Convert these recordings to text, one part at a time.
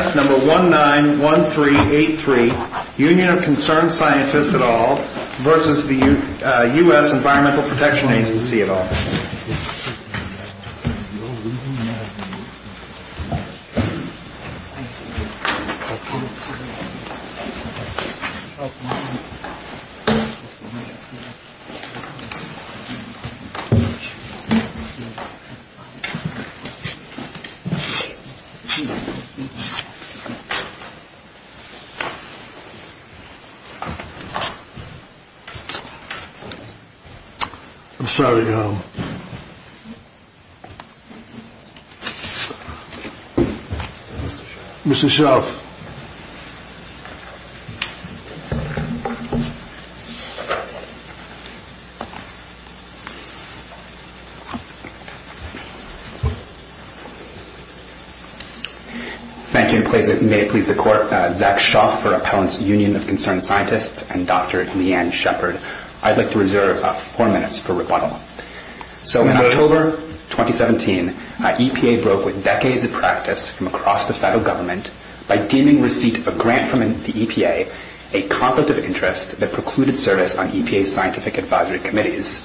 191383 Union of Concerned Scientists et al. v. U.S. Environmental Protection Agency et al. I'm sorry, um, Mr. Shelf. Thank you. May it please the Court, Zach Schauff for Appellant's Union of Concerned Scientists and Dr. Leanne Shepard. I'd like to reserve four minutes for rebuttal. So in October 2017, EPA broke with decades of practice from across the federal government by deeming receipt of grant from the EPA a conflict of interest that precluded service on EPA's scientific advisory committees.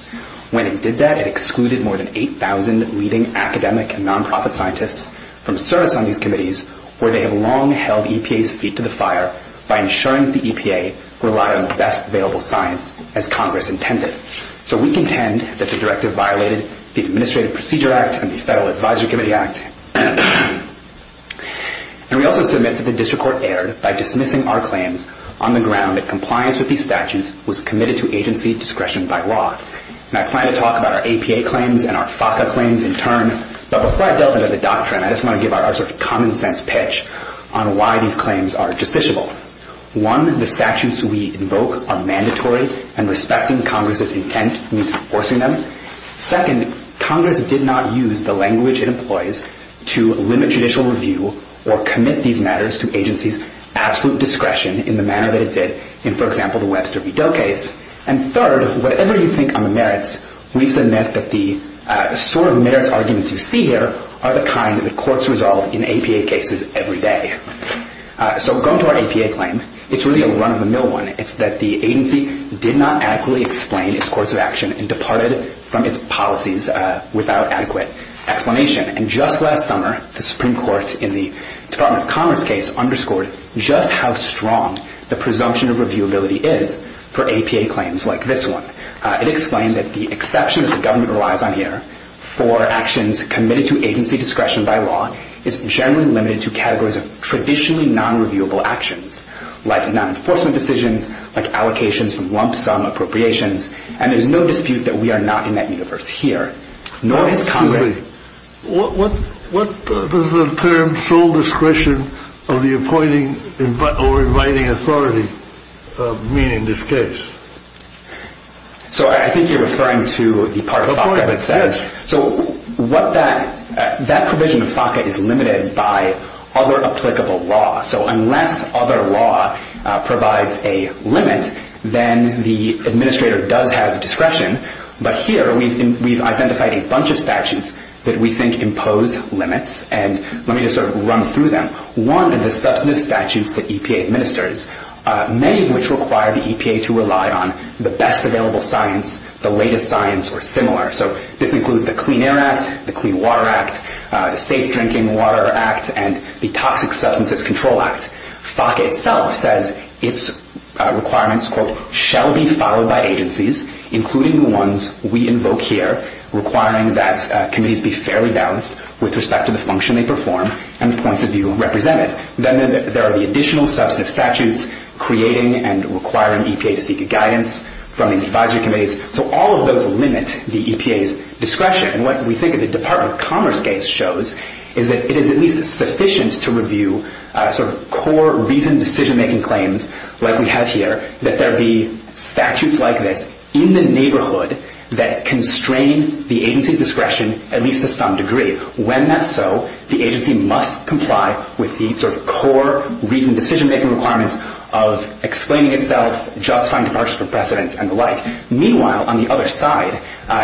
When it did that, it excluded more than 8,000 leading academic and nonprofit scientists from service on these committees where they have long held EPA's feet to the fire by ensuring that the EPA relied on the best available science as Congress intended. So we contend that the directive violated the Administrative Procedure Act and the Federal Advisory Committee Act. And we also submit that the district court erred by dismissing our claims on the ground that compliance with these statutes was committed to agency discretion by law. And I plan to talk about our APA claims and our FACA claims in turn, but before I delve into the doctrine, I just want to give our sort of common sense pitch on why these claims are justiciable. One, the statutes we invoke are mandatory and respecting Congress's intent means enforcing them. Second, Congress did not use the language it employs to limit judicial review or commit these matters to agency's absolute discretion in the manner that it did in, for example, the Webster V. Doe case. And third, whatever you think on the merits, we submit that the sort of merits arguments you see here are the kind that the courts resolve in APA cases every day. So going to our APA claim, it's really a run-of-the-mill one. It's that the agency did not adequately explain its course of action and departed from its policies without adequate explanation. And just last summer, the Supreme Court in the Department of Commerce case underscored just how strong the presumption of reviewability is for APA claims like this one. It explained that the exception that the government relies on here for actions committed to agency discretion by law is generally limited to categories of traditionally non-reviewable actions, like non-enforcement decisions, like allocations from lump sum appropriations, and there's no dispute that we are not in that universe here. What does the term sole discretion of the appointing or inviting authority mean in this case? So I think you're referring to the part of FACA that says. So what that provision of FACA is limited by other applicable law. So unless other law provides a limit, then the administrator does have discretion. But here we've identified a bunch of statutes that we think impose limits. And let me just sort of run through them. One is the substantive statutes that EPA administers, many of which require the EPA to rely on the best available science, the latest science, or similar. So this includes the Clean Air Act, the Clean Water Act, the Safe Drinking Water Act, and the Toxic Substances Control Act. FACA itself says its requirements, quote, shall be followed by agencies, including the ones we invoke here, requiring that committees be fairly balanced with respect to the function they perform and the points of view represented. Then there are the additional substantive statutes creating and requiring EPA to seek guidance from these advisory committees. So all of those limit the EPA's discretion. And what we think of the Department of Commerce case shows is that it is at least sufficient to review sort of core reasoned decision-making claims, like we have here, that there be statutes like this in the neighborhood that constrain the agency's discretion at least to some degree. When that's so, the agency must comply with the sort of core reasoned decision-making requirements of explaining itself, justifying departure from precedence, and the like. Meanwhile, on the other side,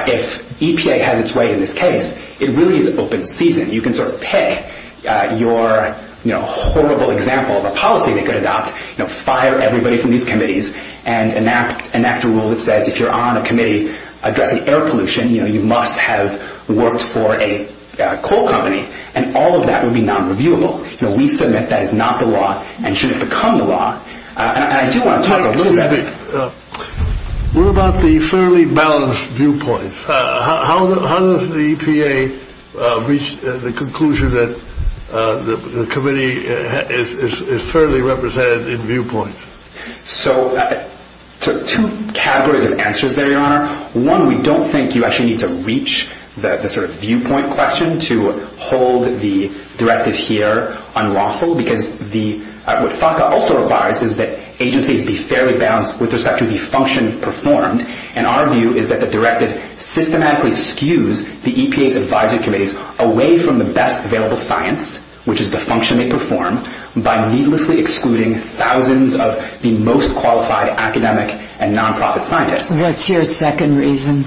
if EPA has its way in this case, it really is open season. You can sort of pick your horrible example of a policy they could adopt, fire everybody from these committees, and enact a rule that says if you're on a committee addressing air pollution, you must have worked for a coal company. And all of that would be non-reviewable. We submit that is not the law and shouldn't become the law. Wait a minute. What about the fairly balanced viewpoints? How does the EPA reach the conclusion that the committee is fairly represented in viewpoints? So two categories of answers there, Your Honor. One, we don't think you actually need to reach the sort of viewpoint question to hold the directive here unlawful, because what FACA also requires is that agencies be fairly balanced with respect to the function performed. And our view is that the directive systematically skews the EPA's advisory committees away from the best available science, which is the function they perform, by needlessly excluding thousands of the most qualified academic and nonprofit scientists. What's your second reason?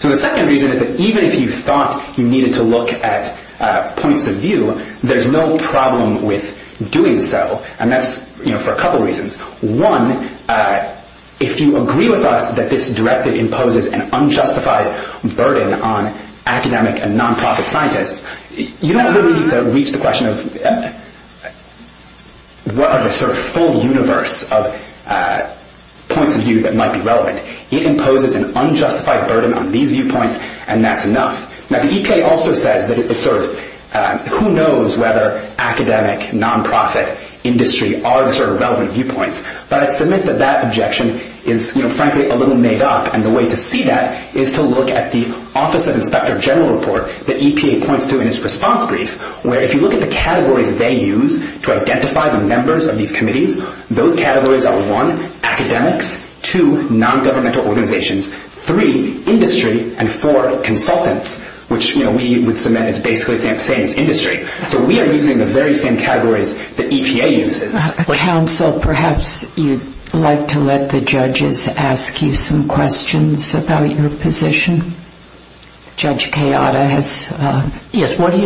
So the second reason is that even if you thought you needed to look at points of view, there's no problem with doing so, and that's for a couple reasons. One, if you agree with us that this directive imposes an unjustified burden on academic and nonprofit scientists, you don't really need to reach the question of what are the sort of full universe of points of view that might be relevant. It imposes an unjustified burden on these viewpoints, and that's enough. Now, the EPA also says that it's sort of, who knows whether academic, nonprofit, industry are the sort of relevant viewpoints. But I submit that that objection is, you know, frankly a little made up, and the way to see that is to look at the Office of Inspector General report that EPA points to in its response brief, where if you look at the categories they use to identify the members of these committees, those categories are, one, academics, two, nongovernmental organizations, three, industry, and four, consultants, which we would submit as basically saying it's industry. So we are using the very same categories that EPA uses. Counsel, perhaps you'd like to let the judges ask you some questions about your position? Judge Kayada has... Yes, what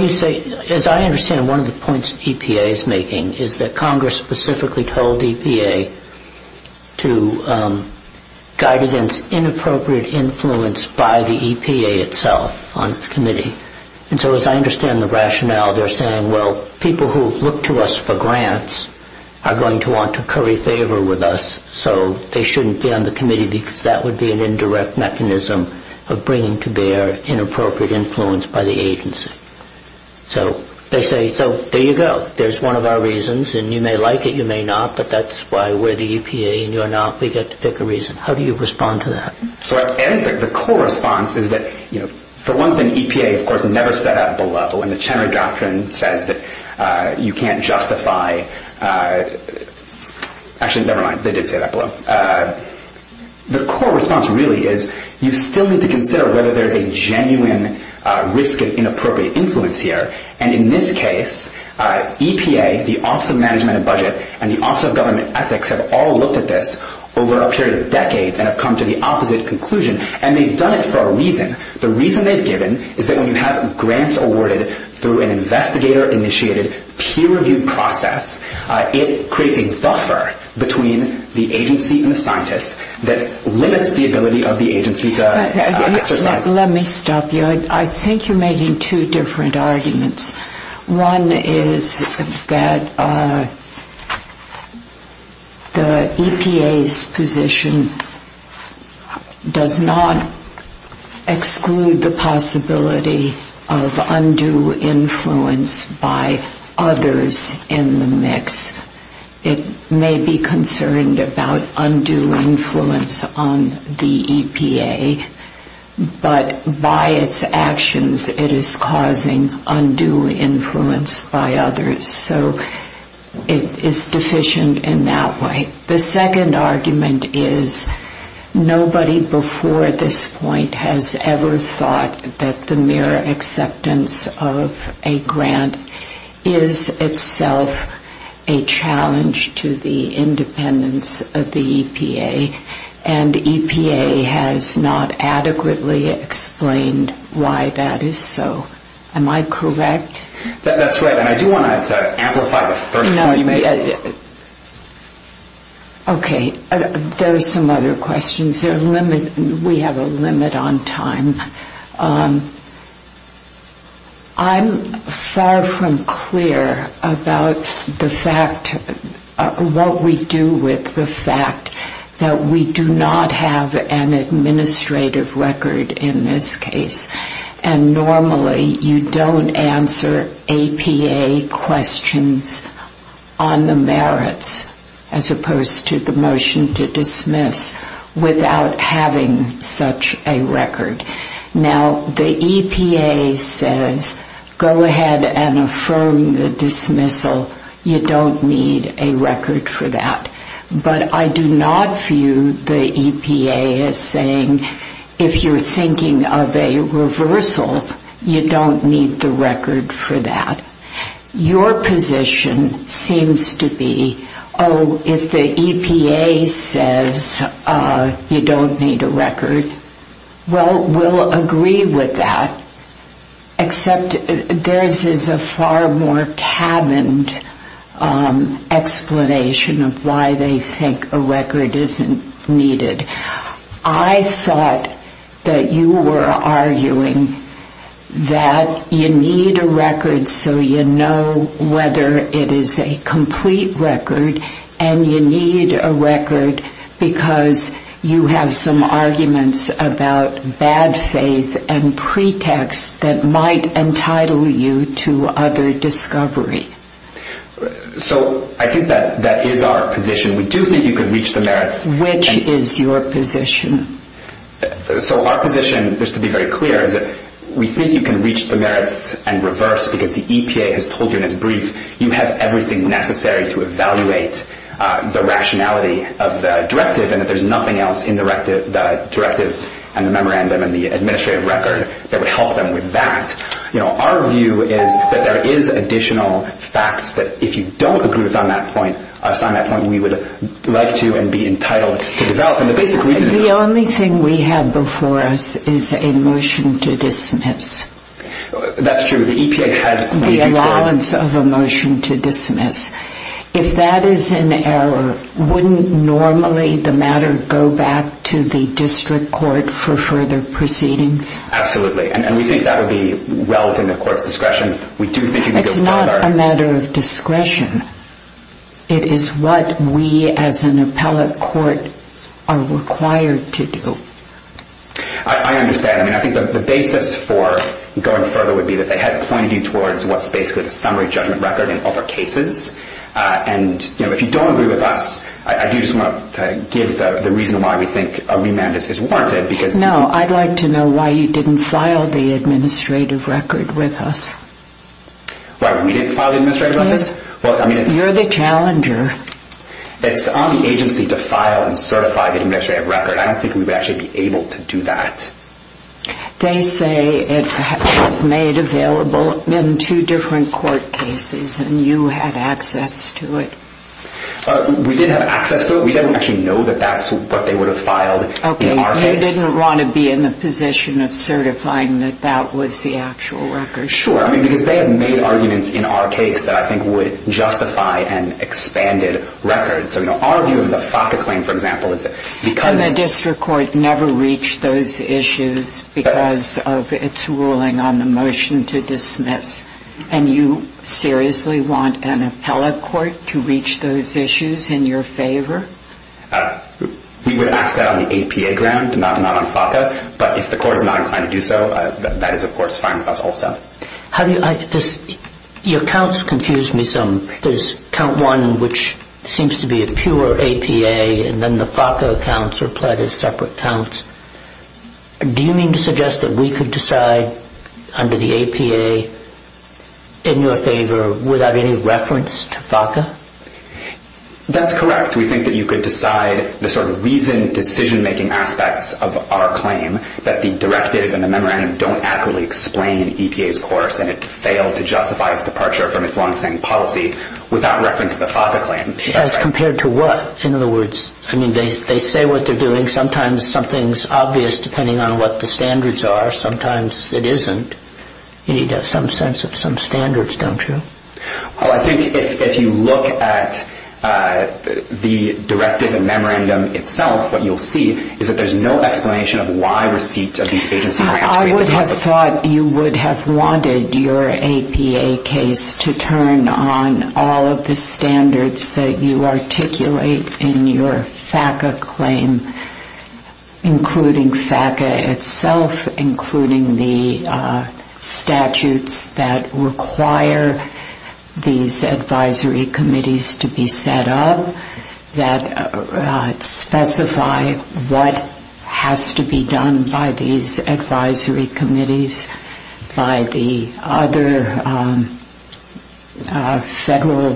you say, as I understand, one of the points EPA is making is that Congress specifically told EPA to guide against inappropriate influence by the EPA itself on its committee. And so as I understand the rationale, they're saying, well, people who look to us for grants are going to want to curry favor with us, so they shouldn't be on the committee because that would be an indirect mechanism of bringing to bear inappropriate influence by the agency. So they say, so there you go, there's one of our reasons, and you may like it, you may not, but that's why we're the EPA and you're not, we get to pick a reason. How do you respond to that? So I think the core response is that, you know, the one thing EPA, of course, never set out below, and the Chenard Doctrine says that you can't justify... Actually, never mind, they did say that below. The core response really is you still need to consider whether there's a genuine risk of inappropriate influence here, and in this case, EPA, the Office of Management and Budget, and the Office of Government Ethics have all looked at this over a period of decades and have come to the opposite conclusion, and they've done it for a reason. The reason they've given is that when you have grants awarded through an investigator-initiated, peer-reviewed process, it creates a buffer between the agency and the scientist that limits the ability of the agency to exercise... Let me stop you. I think you're making two different arguments. One is that the EPA's position does not exclude the possibility of undue influence by others in the mix. It may be concerned about undue influence on the EPA, but by its actions it is causing undue influence by others, so it is deficient in that way. The second argument is nobody before this point has ever thought that the mere acceptance of a grant is itself a challenge to the independence of the EPA, and EPA has not adequately explained why that is so. Am I correct? That's right, and I do want to amplify the first point you made. Okay. There are some other questions. We have a limit on time. I'm far from clear about the fact... Well, we do not have an administrative record in this case, and normally you don't answer EPA questions on the merits as opposed to the motion to dismiss without having such a record. Now, the EPA says go ahead and affirm the dismissal. You don't need a record for that, but I do not view the EPA as saying if you're thinking of a reversal, you don't need the record for that. Your position seems to be, oh, if the EPA says you don't need a record, well, we'll agree with that, except there is a far more cabined explanation of why they think a record isn't needed. I thought that you were arguing that you need a record so you know whether it is a complete record, and you need a record because you have some arguments about bad faith and pretexts that might be useful. And that might entitle you to other discovery. So I think that is our position. We do think you can reach the merits. Which is your position? So our position, just to be very clear, is that we think you can reach the merits and reverse because the EPA has told you in its brief you have everything necessary to evaluate the rationality of the directive, and there is nothing else in the directive and the memorandum and the administrative record that would help them with that. Our view is that there is additional facts that if you don't agree with us on that point, we would like to and be entitled to develop. The only thing we have before us is a motion to dismiss. That's true. The EPA has agreed. If that is an error, wouldn't normally the matter go back to the district court for further proceedings? Absolutely. And we think that would be well within the court's discretion. It's not a matter of discretion. It is what we as an appellate court are required to do. I understand. I think the basis for going further would be that they had pointed you towards what is basically the summary judgment record in other cases. And if you don't agree with us, I do just want to give the reason why we think a remand is warranted. No, I would like to know why you didn't file the administrative record with us. Why we didn't file the administrative record? Because you're the challenger. It's on the agency to file and certify the administrative record. I don't think we would actually be able to do that. They say it was made available in two different court cases and you had access to it. We didn't have access to it. We didn't actually know that that's what they would have filed in our case. And you didn't want to be in the position of certifying that that was the actual record? Sure. Because they had made arguments in our case that I think would justify an expanded record. Our view of the FACA claim, for example, is that because... And the district court never reached those issues because of its ruling on the motion to dismiss. And you seriously want an appellate court to reach those issues in your favor? We would ask that on the APA ground, not on FACA. But if the court is not inclined to do so, that is, of course, fine with us also. Your counts confuse me some. There's count one, which seems to be a pure APA, and then the FACA counts are applied as separate counts. Do you mean to suggest that we could decide under the APA in your favor without any reference to FACA? That's correct. We think that you could decide the sort of reasoned decision-making aspects of our claim that the directive and the memorandum don't accurately explain in EPA's course and it failed to justify its departure from its long-standing policy without reference to the FACA claim. As compared to what? In other words, they say what they're doing. Sometimes something's obvious depending on what the standards are. Sometimes it isn't. You need to have some sense of some standards, don't you? Well, I think if you look at the directive and memorandum itself, what you'll see is that there's no explanation of why receipt of these agency grants... I would have thought you would have wanted your APA case to turn on all of the standards that you articulate in your FACA claim, including FACA itself, including the statutes that require these advisory committees to be set up that specify what has to be done by these advisory committees, by the other federal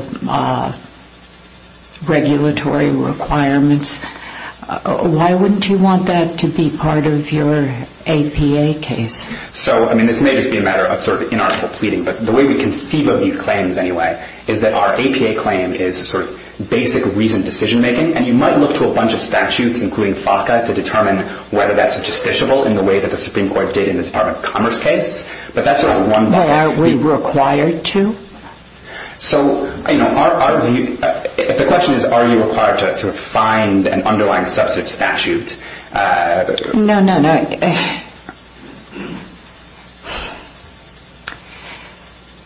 regulatory requirements. Why wouldn't you want that to be part of your APA case? This may just be a matter of inarticulate pleading, but the way we conceive of these claims anyway is that our APA claim is basic reasoned decision-making, and you might look to a bunch of statutes, including FACA, to determine whether that's justiciable in the way that the Supreme Court did in the Department of Commerce case. Well, are we required to? The question is, are you required to find an underlying substantive statute? No, no, no.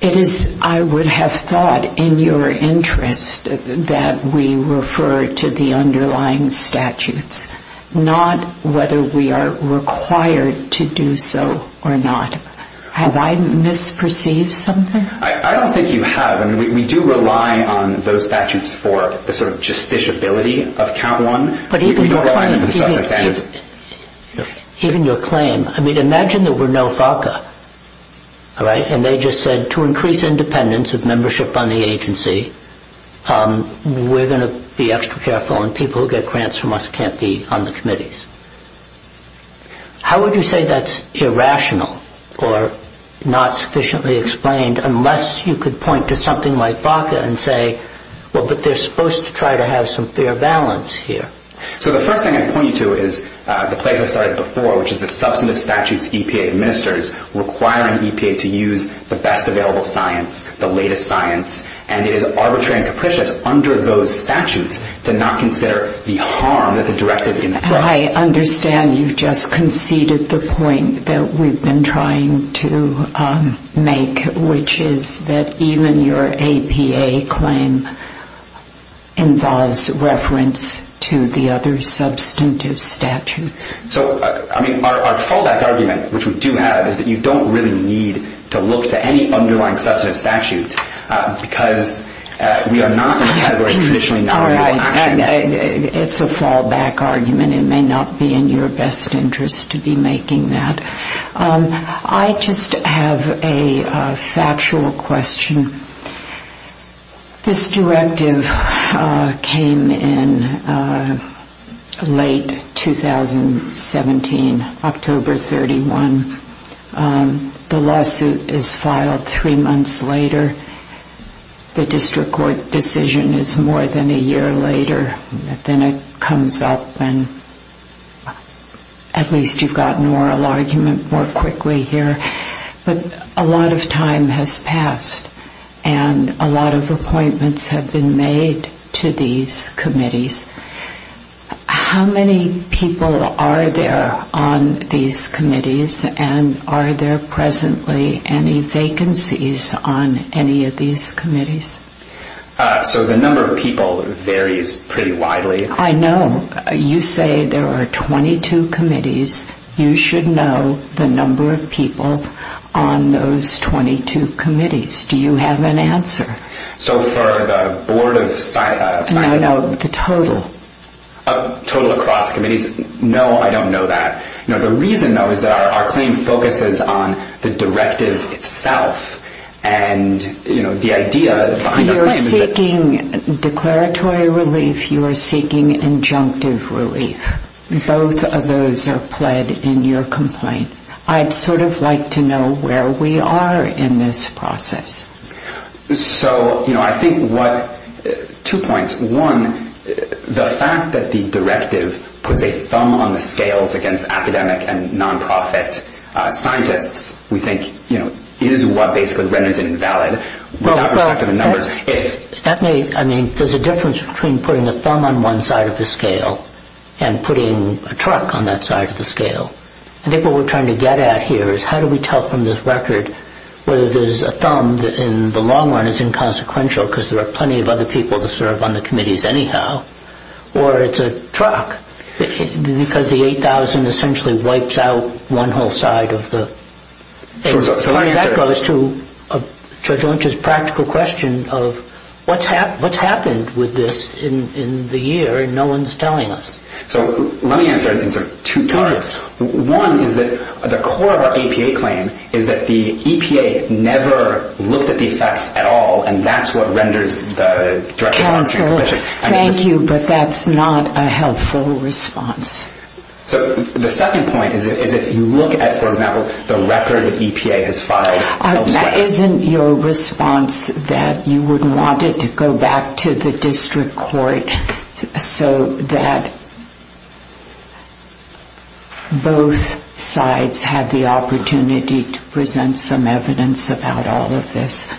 It is, I would have thought, in your interest that we refer to the underlying statutes, not whether we are required to do so or not. Have I misperceived something? I don't think you have. We do rely on those statutes for the sort of justiciability of count one. But even your claim, I mean, imagine that we're no FACA, and they just said to increase independence of membership on the agency, we're going to be extra careful and people who get grants from us can't be on the committees. How would you say that's irrational or not sufficiently explained, unless you could point to something like FACA and say, well, but they're supposed to try to have some fair balance here? So the first thing I'd point you to is the place I started before, which is the substantive statutes EPA administers requiring EPA to use the best available science, the latest science, and it is arbitrary and capricious under those statutes to not consider the harm that the directive inflicts. I understand you've just conceded the point that we've been trying to make, which is that even your APA claim involves reference to the other substantive statutes. So, I mean, our fallback argument, which we do have, is that you don't really need to look to any underlying substantive statute because we are not in the category of traditionally knowledgeable action. It's a fallback argument. It may not be in your best interest to be making that. I just have a factual question. This directive came in late 2017, October 31. The lawsuit is filed three months later. The district court decision is more than a year later. Then it comes up and at least you've got an oral argument more quickly here. But a lot of time has passed and a lot of appointments have been made to these committees. How many people are there on these committees and are there presently any vacancies on any of these committees? So the number of people varies pretty widely. I know. You say there are 22 committees. You should know the number of people on those 22 committees. Do you have an answer? So for the board of scientific... No, no, the total. Total across committees? No, I don't know that. The reason, though, is that our claim focuses on the directive itself. And the idea behind our claim is that... You're seeking declaratory relief. You are seeking injunctive relief. Both of those are pled in your complaint. I'd sort of like to know where we are in this process. So, you know, I think what... Two points. One, the fact that the directive puts a thumb on the scales against academic and non-profit scientists, we think, you know, is what basically renders it invalid. Without respect to the numbers... Stephanie, I mean, there's a difference between putting a thumb on one side of the scale and putting a truck on that side of the scale. I think what we're trying to get at here is how do we tell from this record whether there's a thumb that in the long run is inconsequential because there are plenty of other people to serve on the committees anyhow, or it's a truck because the 8,000 essentially wipes out one whole side of the... So let me echo this to Judge Lynch's practical question of what's happened with this in the year and no one's telling us. So let me answer it in sort of two parts. One is that the core of our EPA claim is that the EPA never looked at the effects at all, and that's what renders the directive... Counsel, thank you, but that's not a helpful response. So the second point is that if you look at, for example, the record that EPA has filed... That isn't your response that you would want it to go back to the district court so that both sides have the opportunity to present some evidence about all of this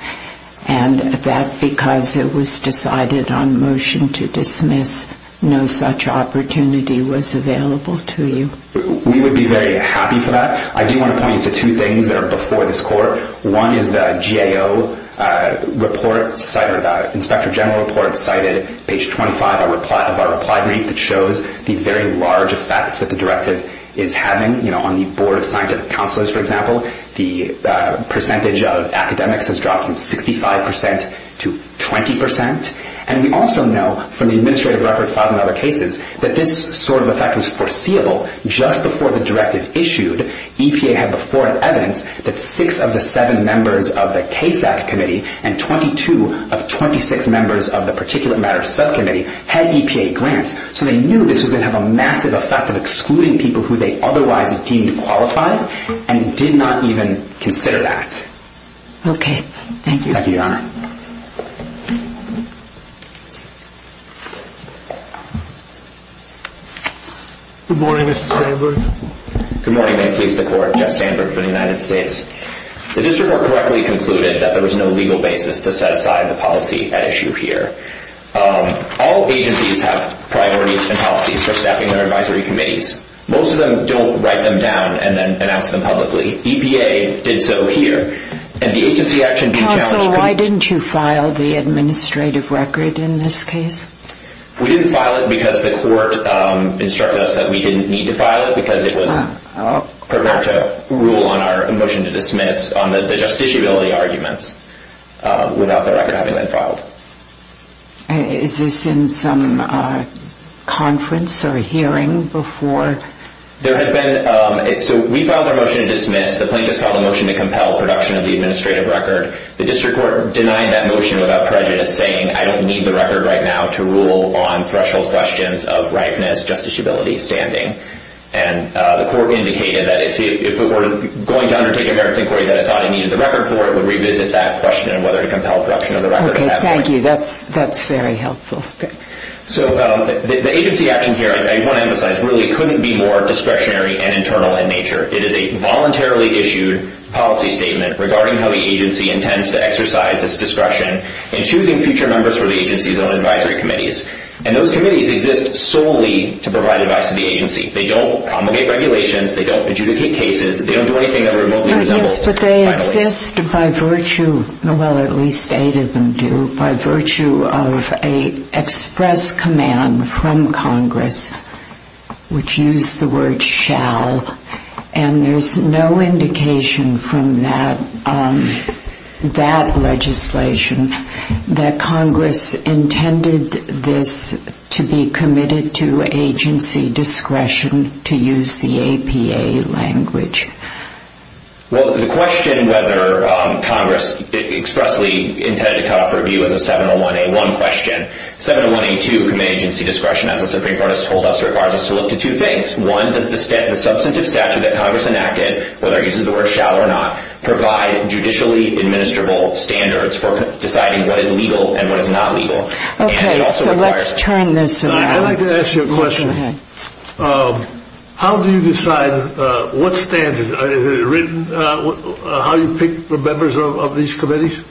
and that because it was decided on motion to dismiss, no such opportunity was available to you. We would be very happy for that. I do want to point you to two things that are before this court. One is the GAO report, Inspector General report, cited page 25 of our reply brief that shows the very large effects that the directive is having. On the Board of Scientific Counselors, for example, the percentage of academics has dropped from 65% to 20%. And we also know from the administrative record filed in other cases that this sort of effect was foreseeable just before the directive issued. EPA had before it evidence that six of the seven members of the CASAC committee and 22 of 26 members of the particulate matter subcommittee had EPA grants. So they knew this was going to have a massive effect of excluding people who they otherwise deemed qualified and did not even consider that. Okay. Thank you. Thank you, Your Honor. Good morning, Mr. Sandberg. Good morning. May it please the Court. Jeff Sandberg for the United States. The district court correctly concluded that there was no legal basis to set aside the policy at issue here. All agencies have priorities and policies for staffing their advisory committees. Most of them don't write them down and then announce them publicly. EPA did so here. And the agency action did challenge that. So why didn't you file the administrative record in this case? We didn't file it because the court instructed us that we didn't need to file it because it was prepared to rule on our motion to dismiss on the justiciability arguments without the record having been filed. Is this in some conference or hearing before? There had been – so we filed our motion to dismiss. The plaintiffs filed a motion to compel production of the administrative record. The district court denied that motion without prejudice, saying I don't need the record right now to rule on threshold questions of ripeness, justiciability, standing. And the court indicated that if it were going to undertake a merits inquiry that it thought it needed the record for, it would revisit that question of whether to compel production of the record. Okay. Thank you. That's very helpful. So the agency action here, I want to emphasize, really couldn't be more discretionary and internal in nature. It is a voluntarily issued policy statement regarding how the agency intends to exercise its discretion in choosing future members for the agency's own advisory committees. And those committees exist solely to provide advice to the agency. They don't promulgate regulations. They don't adjudicate cases. They don't do anything that would remotely resemble filing a case. Yes, but they exist by virtue – well, at least eight of them do – by virtue of an express command from Congress, which used the word shall. And there's no indication from that legislation that Congress intended this to be committed to agency discretion, to use the APA language. Well, the question whether Congress expressly intended to cut off review is a 701A1 question. 701A2 committee agency discretion, as the Supreme Court has told us, requires us to look to two things. One, does the substantive statute that Congress enacted, whether it uses the word shall or not, provide judicially administrable standards for deciding what is legal and what is not legal? Okay, so let's turn this around. I'd like to ask you a question. Go ahead. How do you decide what standards? Is it written how you pick the members of these committees?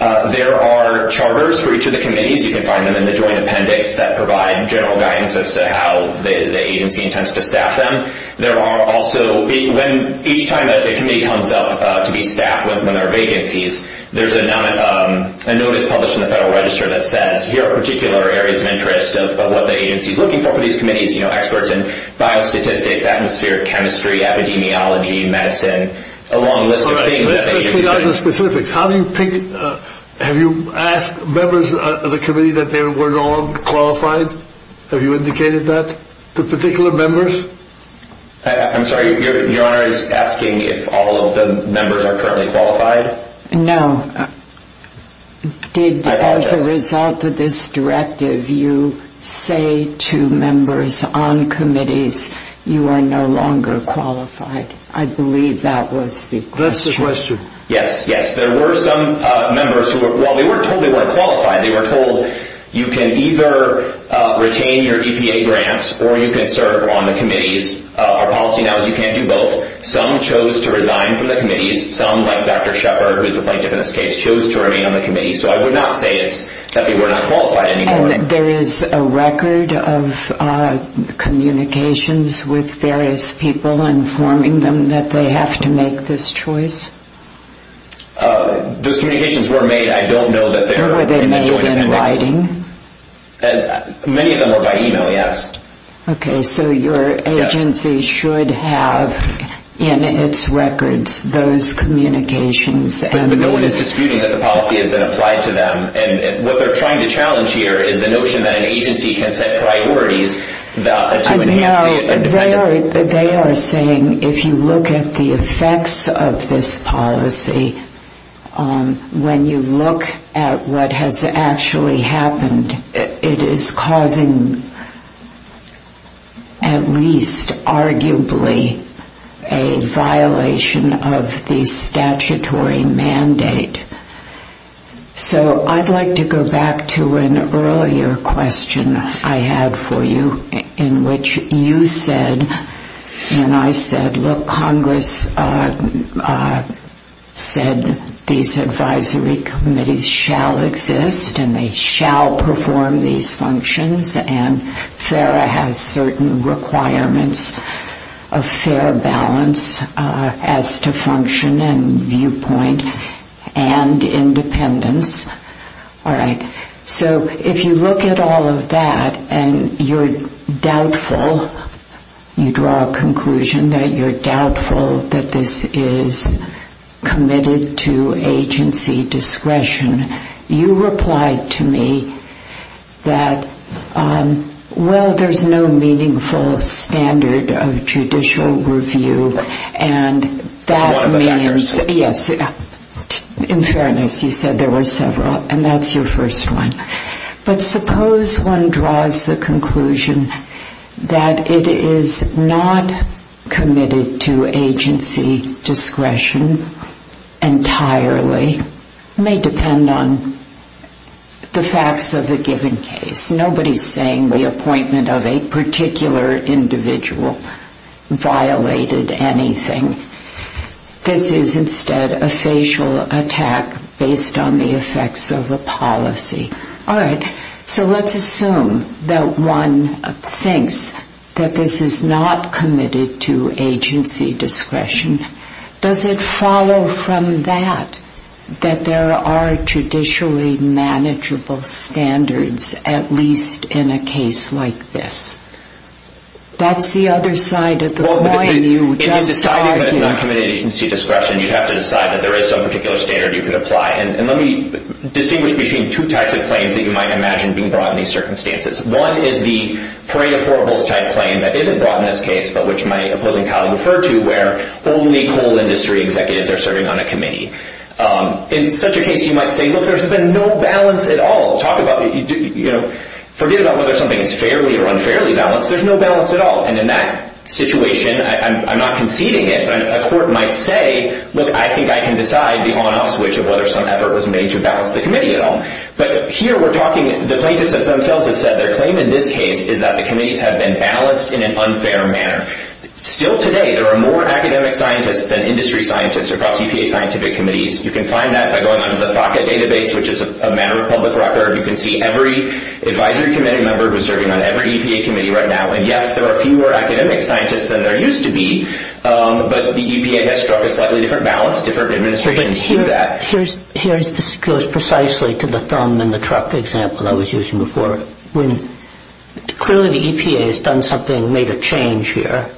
There are charters for each of the committees. You can find them in the joint appendix that provide general guidance as to how the agency intends to staff them. There are also – each time that a committee comes up to be staffed with one of their vacancies, there's a notice published in the Federal Register that says, here are particular areas of interest of what the agency is looking for for these committees, you know, experts in biostatistics, atmosphere, chemistry, epidemiology, medicine, a long list of things. How do you pick – have you asked members of the committee that they were not qualified? Have you indicated that to particular members? I'm sorry, Your Honor is asking if all of the members are currently qualified? No. Did, as a result of this directive, you say to members on committees, you are no longer qualified? I believe that was the question. Yes, yes. There were some members who, while they weren't told they weren't qualified, they were told you can either retain your EPA grants or you can serve on the committees. Our policy now is you can't do both. Some chose to resign from the committees. Some, like Dr. Shepard, who is a plaintiff in this case, chose to remain on the committee. So I would not say that they were not qualified anymore. And there is a record of communications with various people informing them that they have to make this choice? Those communications were made. I don't know that they're in the Joint Appendix. Were they made in writing? Many of them were by email, yes. Okay, so your agency should have in its records those communications. But no one is disputing that the policy has been applied to them. What they're trying to challenge here is the notion that an agency can set priorities to enhance the independence. They are saying if you look at the effects of this policy, when you look at what has actually happened, it is causing at least arguably a violation of the statutory mandate. So I'd like to go back to an earlier question I had for you in which you said, and I said, look, Congress said these advisory committees shall exist and they shall perform these functions, and FARA has certain requirements of fair balance as to function and viewpoint and independence. All right. So if you look at all of that and you're doubtful, you draw a conclusion that you're doubtful that this is committed to agency discretion, you replied to me that, well, there's no meaningful standard of judicial review. That's one of the factors. Yes. In fairness, you said there were several, and that's your first one, but suppose one draws the conclusion that it is not committed to agency discretion entirely. It may depend on the facts of the given case. Nobody is saying the appointment of a particular individual violated anything. This is instead a facial attack based on the effects of a policy. All right. So let's assume that one thinks that this is not committed to agency discretion. Does it follow from that that there are judicially manageable standards, at least in a case like this? That's the other side of the coin. In deciding that it's not committed to agency discretion, you'd have to decide that there is some particular standard you could apply. Let me distinguish between two types of claims that you might imagine being brought in these circumstances. One is the parade of horribles type claim that isn't brought in this case but which my opposing colleague referred to where only coal industry executives are serving on a committee. In such a case, you might say, look, there's been no balance at all. Forget about whether something is fairly or unfairly balanced. There's no balance at all. And in that situation, I'm not conceding it, but a court might say, look, I think I can decide the on-off switch of whether some effort was made to balance the committee at all. But here we're talking the plaintiffs themselves have said their claim in this case is that the committees have been balanced in an unfair manner. Still today, there are more academic scientists than industry scientists across EPA scientific committees. You can find that by going onto the FACA database, which is a matter of public record. You can see every advisory committee member who's serving on every EPA committee right now. And, yes, there are fewer academic scientists than there used to be, but the EPA has struck a slightly different balance. Different administrations do that. This goes precisely to the thumb-in-the-truck example I was using before. Clearly the EPA has done something, made a change here.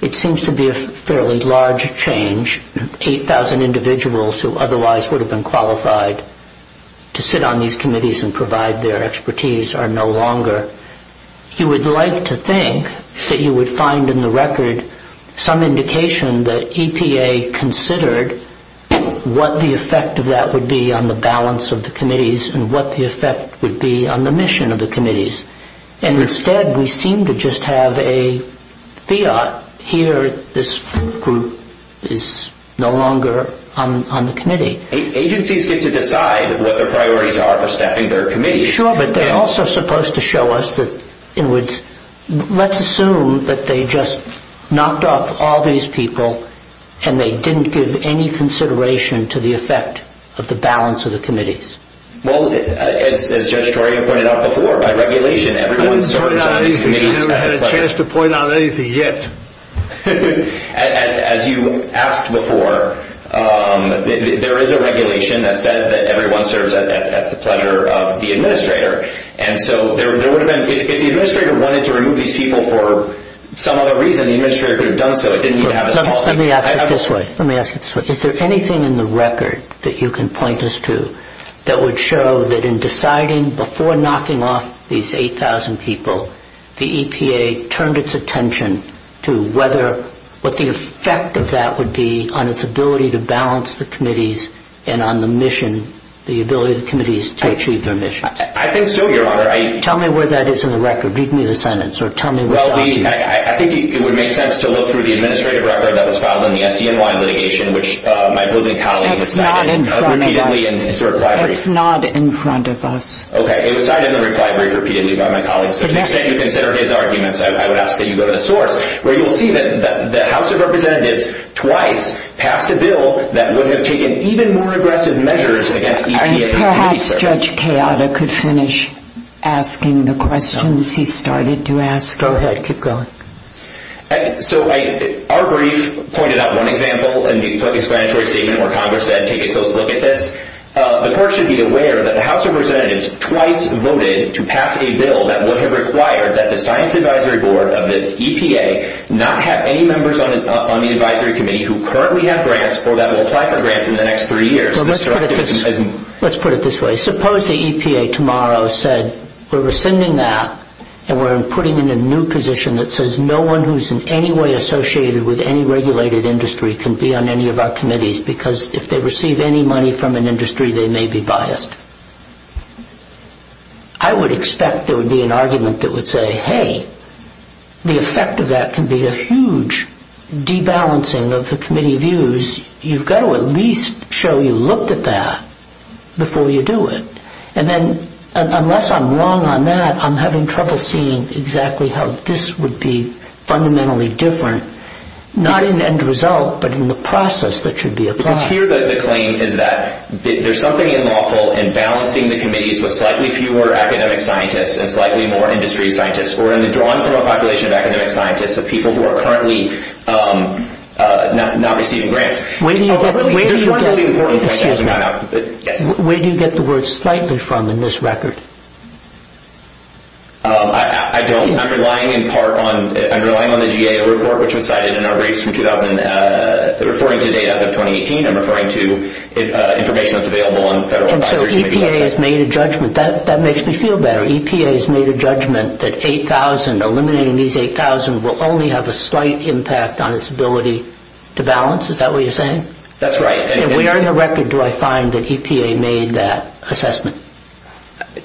It seems to be a fairly large change. 8,000 individuals who otherwise would have been qualified to sit on these committees and provide their expertise are no longer. You would like to think that you would find in the record some indication that EPA considered what the effect of that would be on the balance of the committees and what the effect would be on the mission of the committees. And instead we seem to just have a fiat. Here this group is no longer on the committee. Agencies get to decide what their priorities are for stepping their committees. Sure, but they're also supposed to show us that, in words, let's assume that they just knocked off all these people and they didn't give any consideration to the effect of the balance of the committees. Well, as Judge Torian pointed out before, by regulation everyone serves on these committees. I never had a chance to point out anything yet. As you asked before, there is a regulation that says that everyone serves at the pleasure of the administrator. If the administrator wanted to remove these people for some other reason, the administrator could have done so. Let me ask it this way. Is there anything in the record that you can point us to that would show that in deciding before knocking off these 8,000 people, the EPA turned its attention to what the effect of that would be on its ability to balance the committees and on the mission, the ability of the committees to achieve their mission? I think so, Your Honor. Tell me where that is in the record. Read me the sentence. I think it would make sense to look through the administrative record that was filed in the SDNY litigation, which my opposing colleague has cited repeatedly in his reply brief. It's not in front of us. Okay, it was cited in the reply brief repeatedly by my colleague. To the extent you consider his arguments, I would ask that you go to the source where you will see that the House of Representatives twice passed a bill that would have taken even more aggressive measures against EPA committee service. Perhaps Judge Keada could finish asking the questions he started to ask. Go ahead. Keep going. Our brief pointed out one example in the explanatory statement where Congress said take a close look at this. The court should be aware that the House of Representatives twice voted to pass a bill that would have required that the science advisory board of the EPA not have any members on the advisory committee who currently have grants or that will apply for grants in the next three years. Let's put it this way. Suppose the EPA tomorrow said we're rescinding that and we're putting in a new position that says no one who's in any way associated with any regulated industry can be on any of our committees because if they receive any money from an industry, they may be biased. I would expect there would be an argument that would say, hey, the effect of that can be a huge debalancing of the committee views. You've got to at least show you looked at that before you do it. And then unless I'm wrong on that, I'm having trouble seeing exactly how this would be fundamentally different, not in the end result but in the process that should be applied. Here the claim is that there's something unlawful in balancing the committees with slightly fewer academic scientists and slightly more industry scientists or in the drawn-from-a-population of academic scientists of people who are currently not receiving grants. Where do you get the word slightly from in this record? I don't. I'm relying in part on the GAO report which was cited in our briefs from 2000 and referring to data as of 2018. I'm referring to information that's available on federal advisory committees. EPA has made a judgment. That makes me feel better. EPA has made a judgment that eliminating these 8,000 will only have a slight impact on its ability to balance. Is that what you're saying? That's right. Where in the record do I find that EPA made that assessment?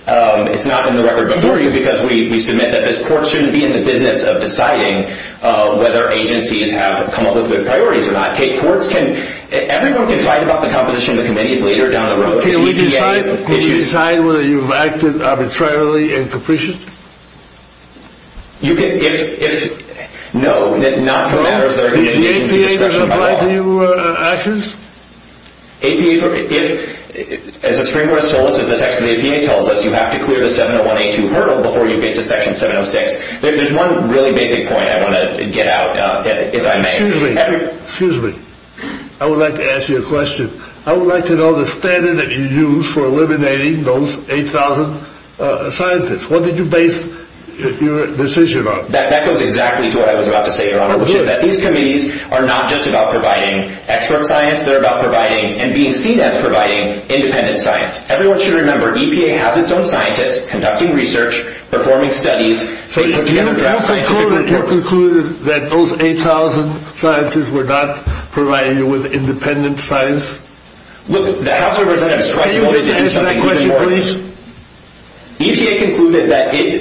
It's not in the record because we submit that this court shouldn't be in the business of deciding whether agencies have come up with good priorities or not. Everyone can fight about the composition of the committees later down the road. Can we decide whether you've acted arbitrarily and capriciously? No, not for matters that are in the agency's discretion at all. Did the APA provide you actions? As a screen reader told us, as the text of the APA tells us, you have to clear the 701A2 hurdle before you get to Section 706. There's one really basic point I want to get out. Excuse me. I would like to ask you a question. I would like to know the standard that you use for eliminating those 8,000 scientists. What did you base your decision on? That goes exactly to what I was about to say, Your Honor, which is that these committees are not just about providing expert science. They're about providing and being seen as providing independent science. Everyone should remember EPA has its own scientists conducting research, performing studies. So you concluded that those 8,000 scientists were not providing you with independent science? Look, the House of Representatives tried to hold it down to something even more. Can you address that question, please? EPA concluded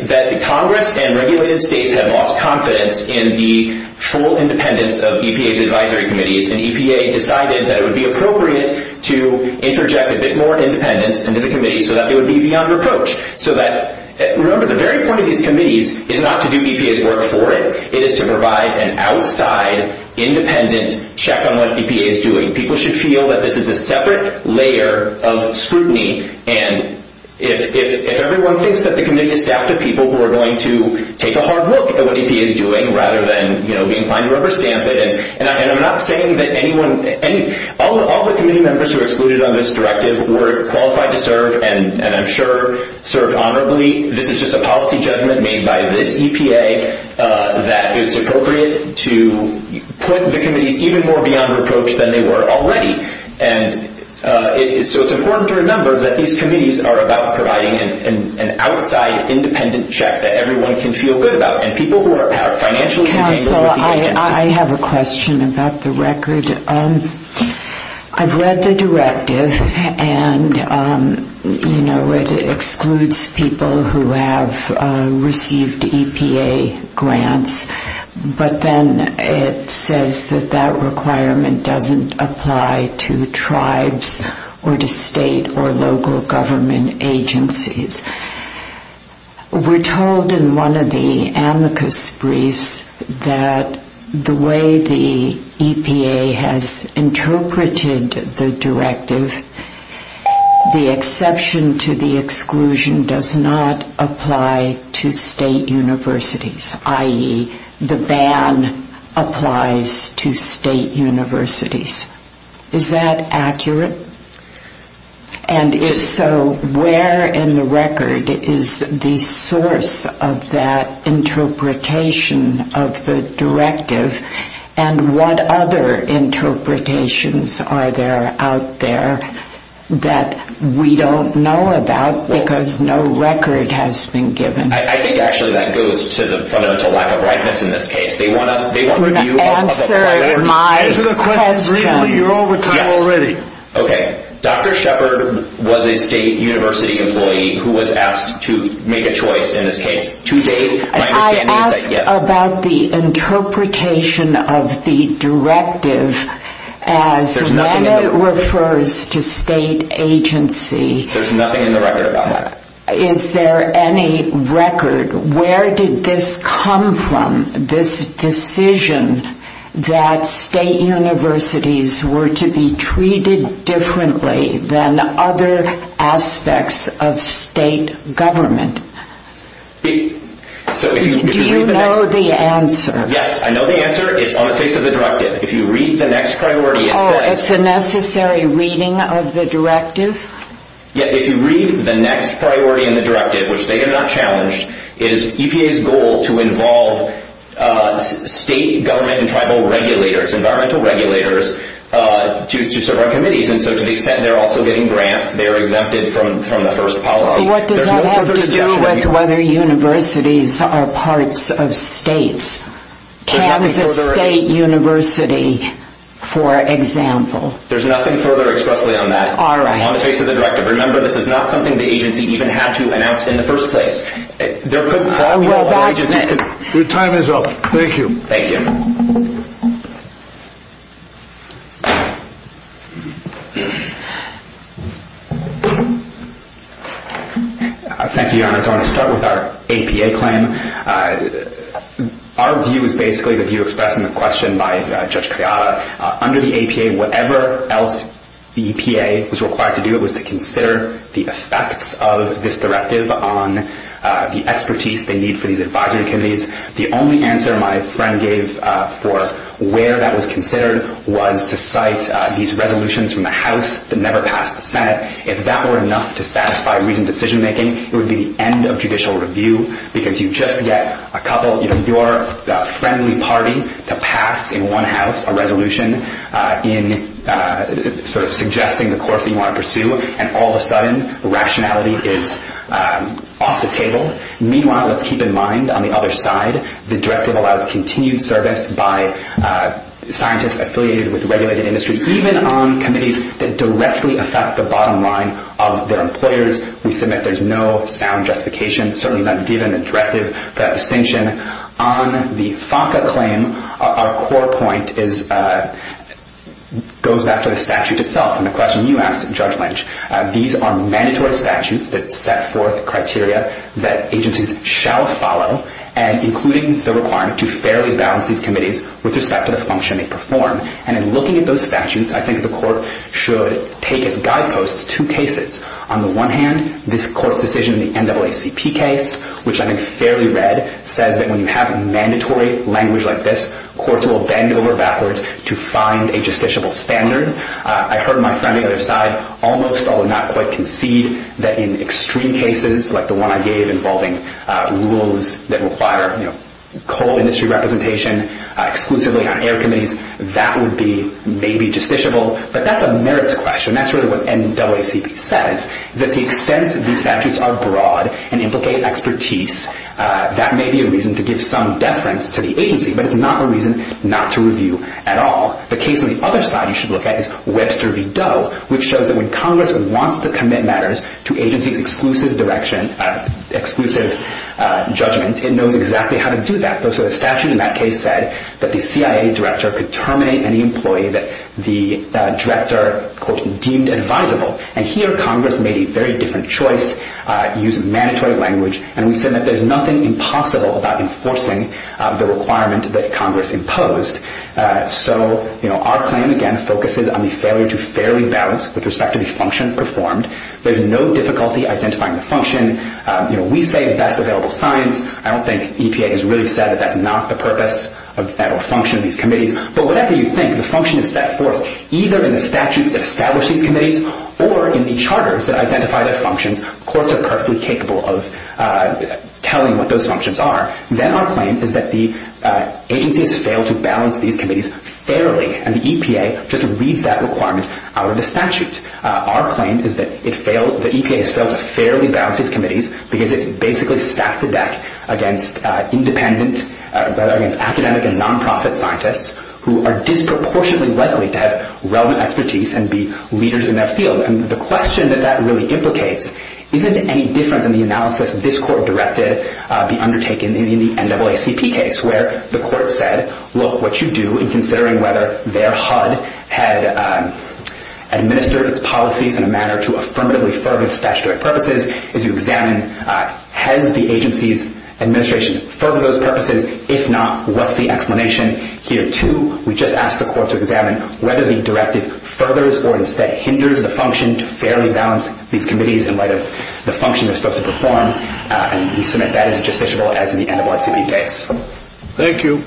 that Congress and regulated states have lost confidence in the full independence of EPA's advisory committees, and EPA decided that it would be appropriate to interject a bit more independence into the committees so that it would be beyond reproach. Remember, the very point of these committees is not to do EPA's work for it. It is to provide an outside, independent check on what EPA is doing. People should feel that this is a separate layer of scrutiny, and if everyone thinks that the committee is staffed with people who are going to take a hard look at what EPA is doing rather than be inclined to rubber stamp it, and I'm not saying that anyone, all the committee members who are excluded on this directive were qualified to serve and, I'm sure, served honorably. This is just a policy judgment made by this EPA that it's appropriate to put the committees even more beyond reproach than they were already. And so it's important to remember that these committees are about providing an outside, independent check that everyone can feel good about, and people who are financially contained over the agency. Counsel, I have a question about the record. And I've read the directive, and, you know, it excludes people who have received EPA grants, but then it says that that requirement doesn't apply to tribes or to state or local government agencies. We're told in one of the amicus briefs that the way the EPA has been working and has interpreted the directive, the exception to the exclusion does not apply to state universities, i.e., the ban applies to state universities. Is that accurate? And if so, where in the record is the source of that interpretation of the directive, and what other interpretations are there out there that we don't know about, because no record has been given? I think, actually, that goes to the fundamental lack of rightness in this case. Answer my question. You're over time already. Dr. Shepard was a state university employee who was asked to make a choice in this case. To date, my understanding is that yes. I asked about the interpretation of the directive as when it refers to state agency. There's nothing in the record about that. Is there any record? Where did this come from, this decision that state universities were to be treated differently than other aspects of state government? Do you know the answer? Yes, I know the answer. It's on the face of the directive. If you read the next priority, it says... Oh, it's a necessary reading of the directive? Yeah, if you read the next priority in the directive, which they did not challenge, it is EPA's goal to involve state government and tribal regulators, environmental regulators, to serve on committees, and so to the extent they're also getting grants, they're exempted from the first policy. So what does that have to do with whether universities are parts of states? Kansas State University, for example. There's nothing further expressly on that. All right. On the face of the directive. Remember, this is not something the agency even had to announce in the first place. Your time is up. Thank you. Thank you. Thank you, Your Honor. I want to start with our APA claim. Our view is basically the view expressed in the question by Judge Criotta. Under the APA, whatever else the EPA was required to do was to consider the effects of this directive on the expertise they need for these advisory committees. The only answer my friend gave for where that was considered was to cite these resolutions from the House that never passed the Senate. If that were enough to satisfy reasoned decision-making, it would be the end of judicial review because you just get a couple of your friendly party to pass in one house a resolution in sort of suggesting the course you want to pursue, and all of a sudden, rationality is off the table. Meanwhile, let's keep in mind, on the other side, the directive allows continued service by scientists affiliated with regulated industry, even on committees that directly affect the bottom line of their employers. We submit there's no sound justification, certainly not given in the directive, for that distinction. On the FACA claim, our core point goes back to the statute itself. In the question you asked, Judge Lynch, these are mandatory statutes that set forth criteria that agencies shall follow, including the requirement to fairly balance these committees with respect to the function they perform. And in looking at those statutes, I think the court should take as guideposts two cases. On the one hand, this court's decision in the NAACP case, which I think is fairly read, says that when you have a mandatory language like this, courts will bend over backwards to find a justiciable standard. I heard my friend on the other side almost, although not quite, concede that in extreme cases like the one I gave involving rules that require coal industry representation exclusively on air committees, that would be maybe justiciable, but that's a merits question. That's really what NAACP says, is that the extent these statutes are broad and implicate expertise, that may be a reason to give some deference to the agency, but it's not a reason not to review at all. The case on the other side you should look at is Webster v. Doe, which shows that when Congress wants to commit matters to agencies' exclusive judgment, it knows exactly how to do that. So the statute in that case said that the CIA director could terminate any employee that the director, quote, deemed advisable. And here Congress made a very different choice, used mandatory language, and we said that there's nothing impossible about enforcing the requirement that Congress imposed. So our claim, again, focuses on the failure to fairly balance with respect to the function performed. There's no difficulty identifying the function. We say best available science. I don't think EPA has really said that that's not the purpose or function of these committees. But whatever you think, the function is set forth either in the statutes that establish these committees or in the charters that identify their functions. Courts are perfectly capable of telling what those functions are. Then our claim is that the agency has failed to balance these committees fairly, and the EPA just reads that requirement out of the statute. Our claim is that the EPA has failed to fairly balance these committees because it's basically stacked the deck against independent, against academic and non-profit scientists who are disproportionately likely to have relevant expertise and be leaders in their field. And the question that that really implicates isn't any different than the analysis this court directed be undertaken in the NAACP case, where the court said, look, what you do in considering whether their HUD had administered its policies in a manner to affirmatively further the statutory purposes is you examine has the agency's administration furthered those purposes? If not, what's the explanation? Here, too, we just ask the court to examine whether the directive furthers or instead hinders the function to fairly balance these committees in light of the function they're supposed to perform. And we submit that as justiciable as in the NAACP case. Thank you.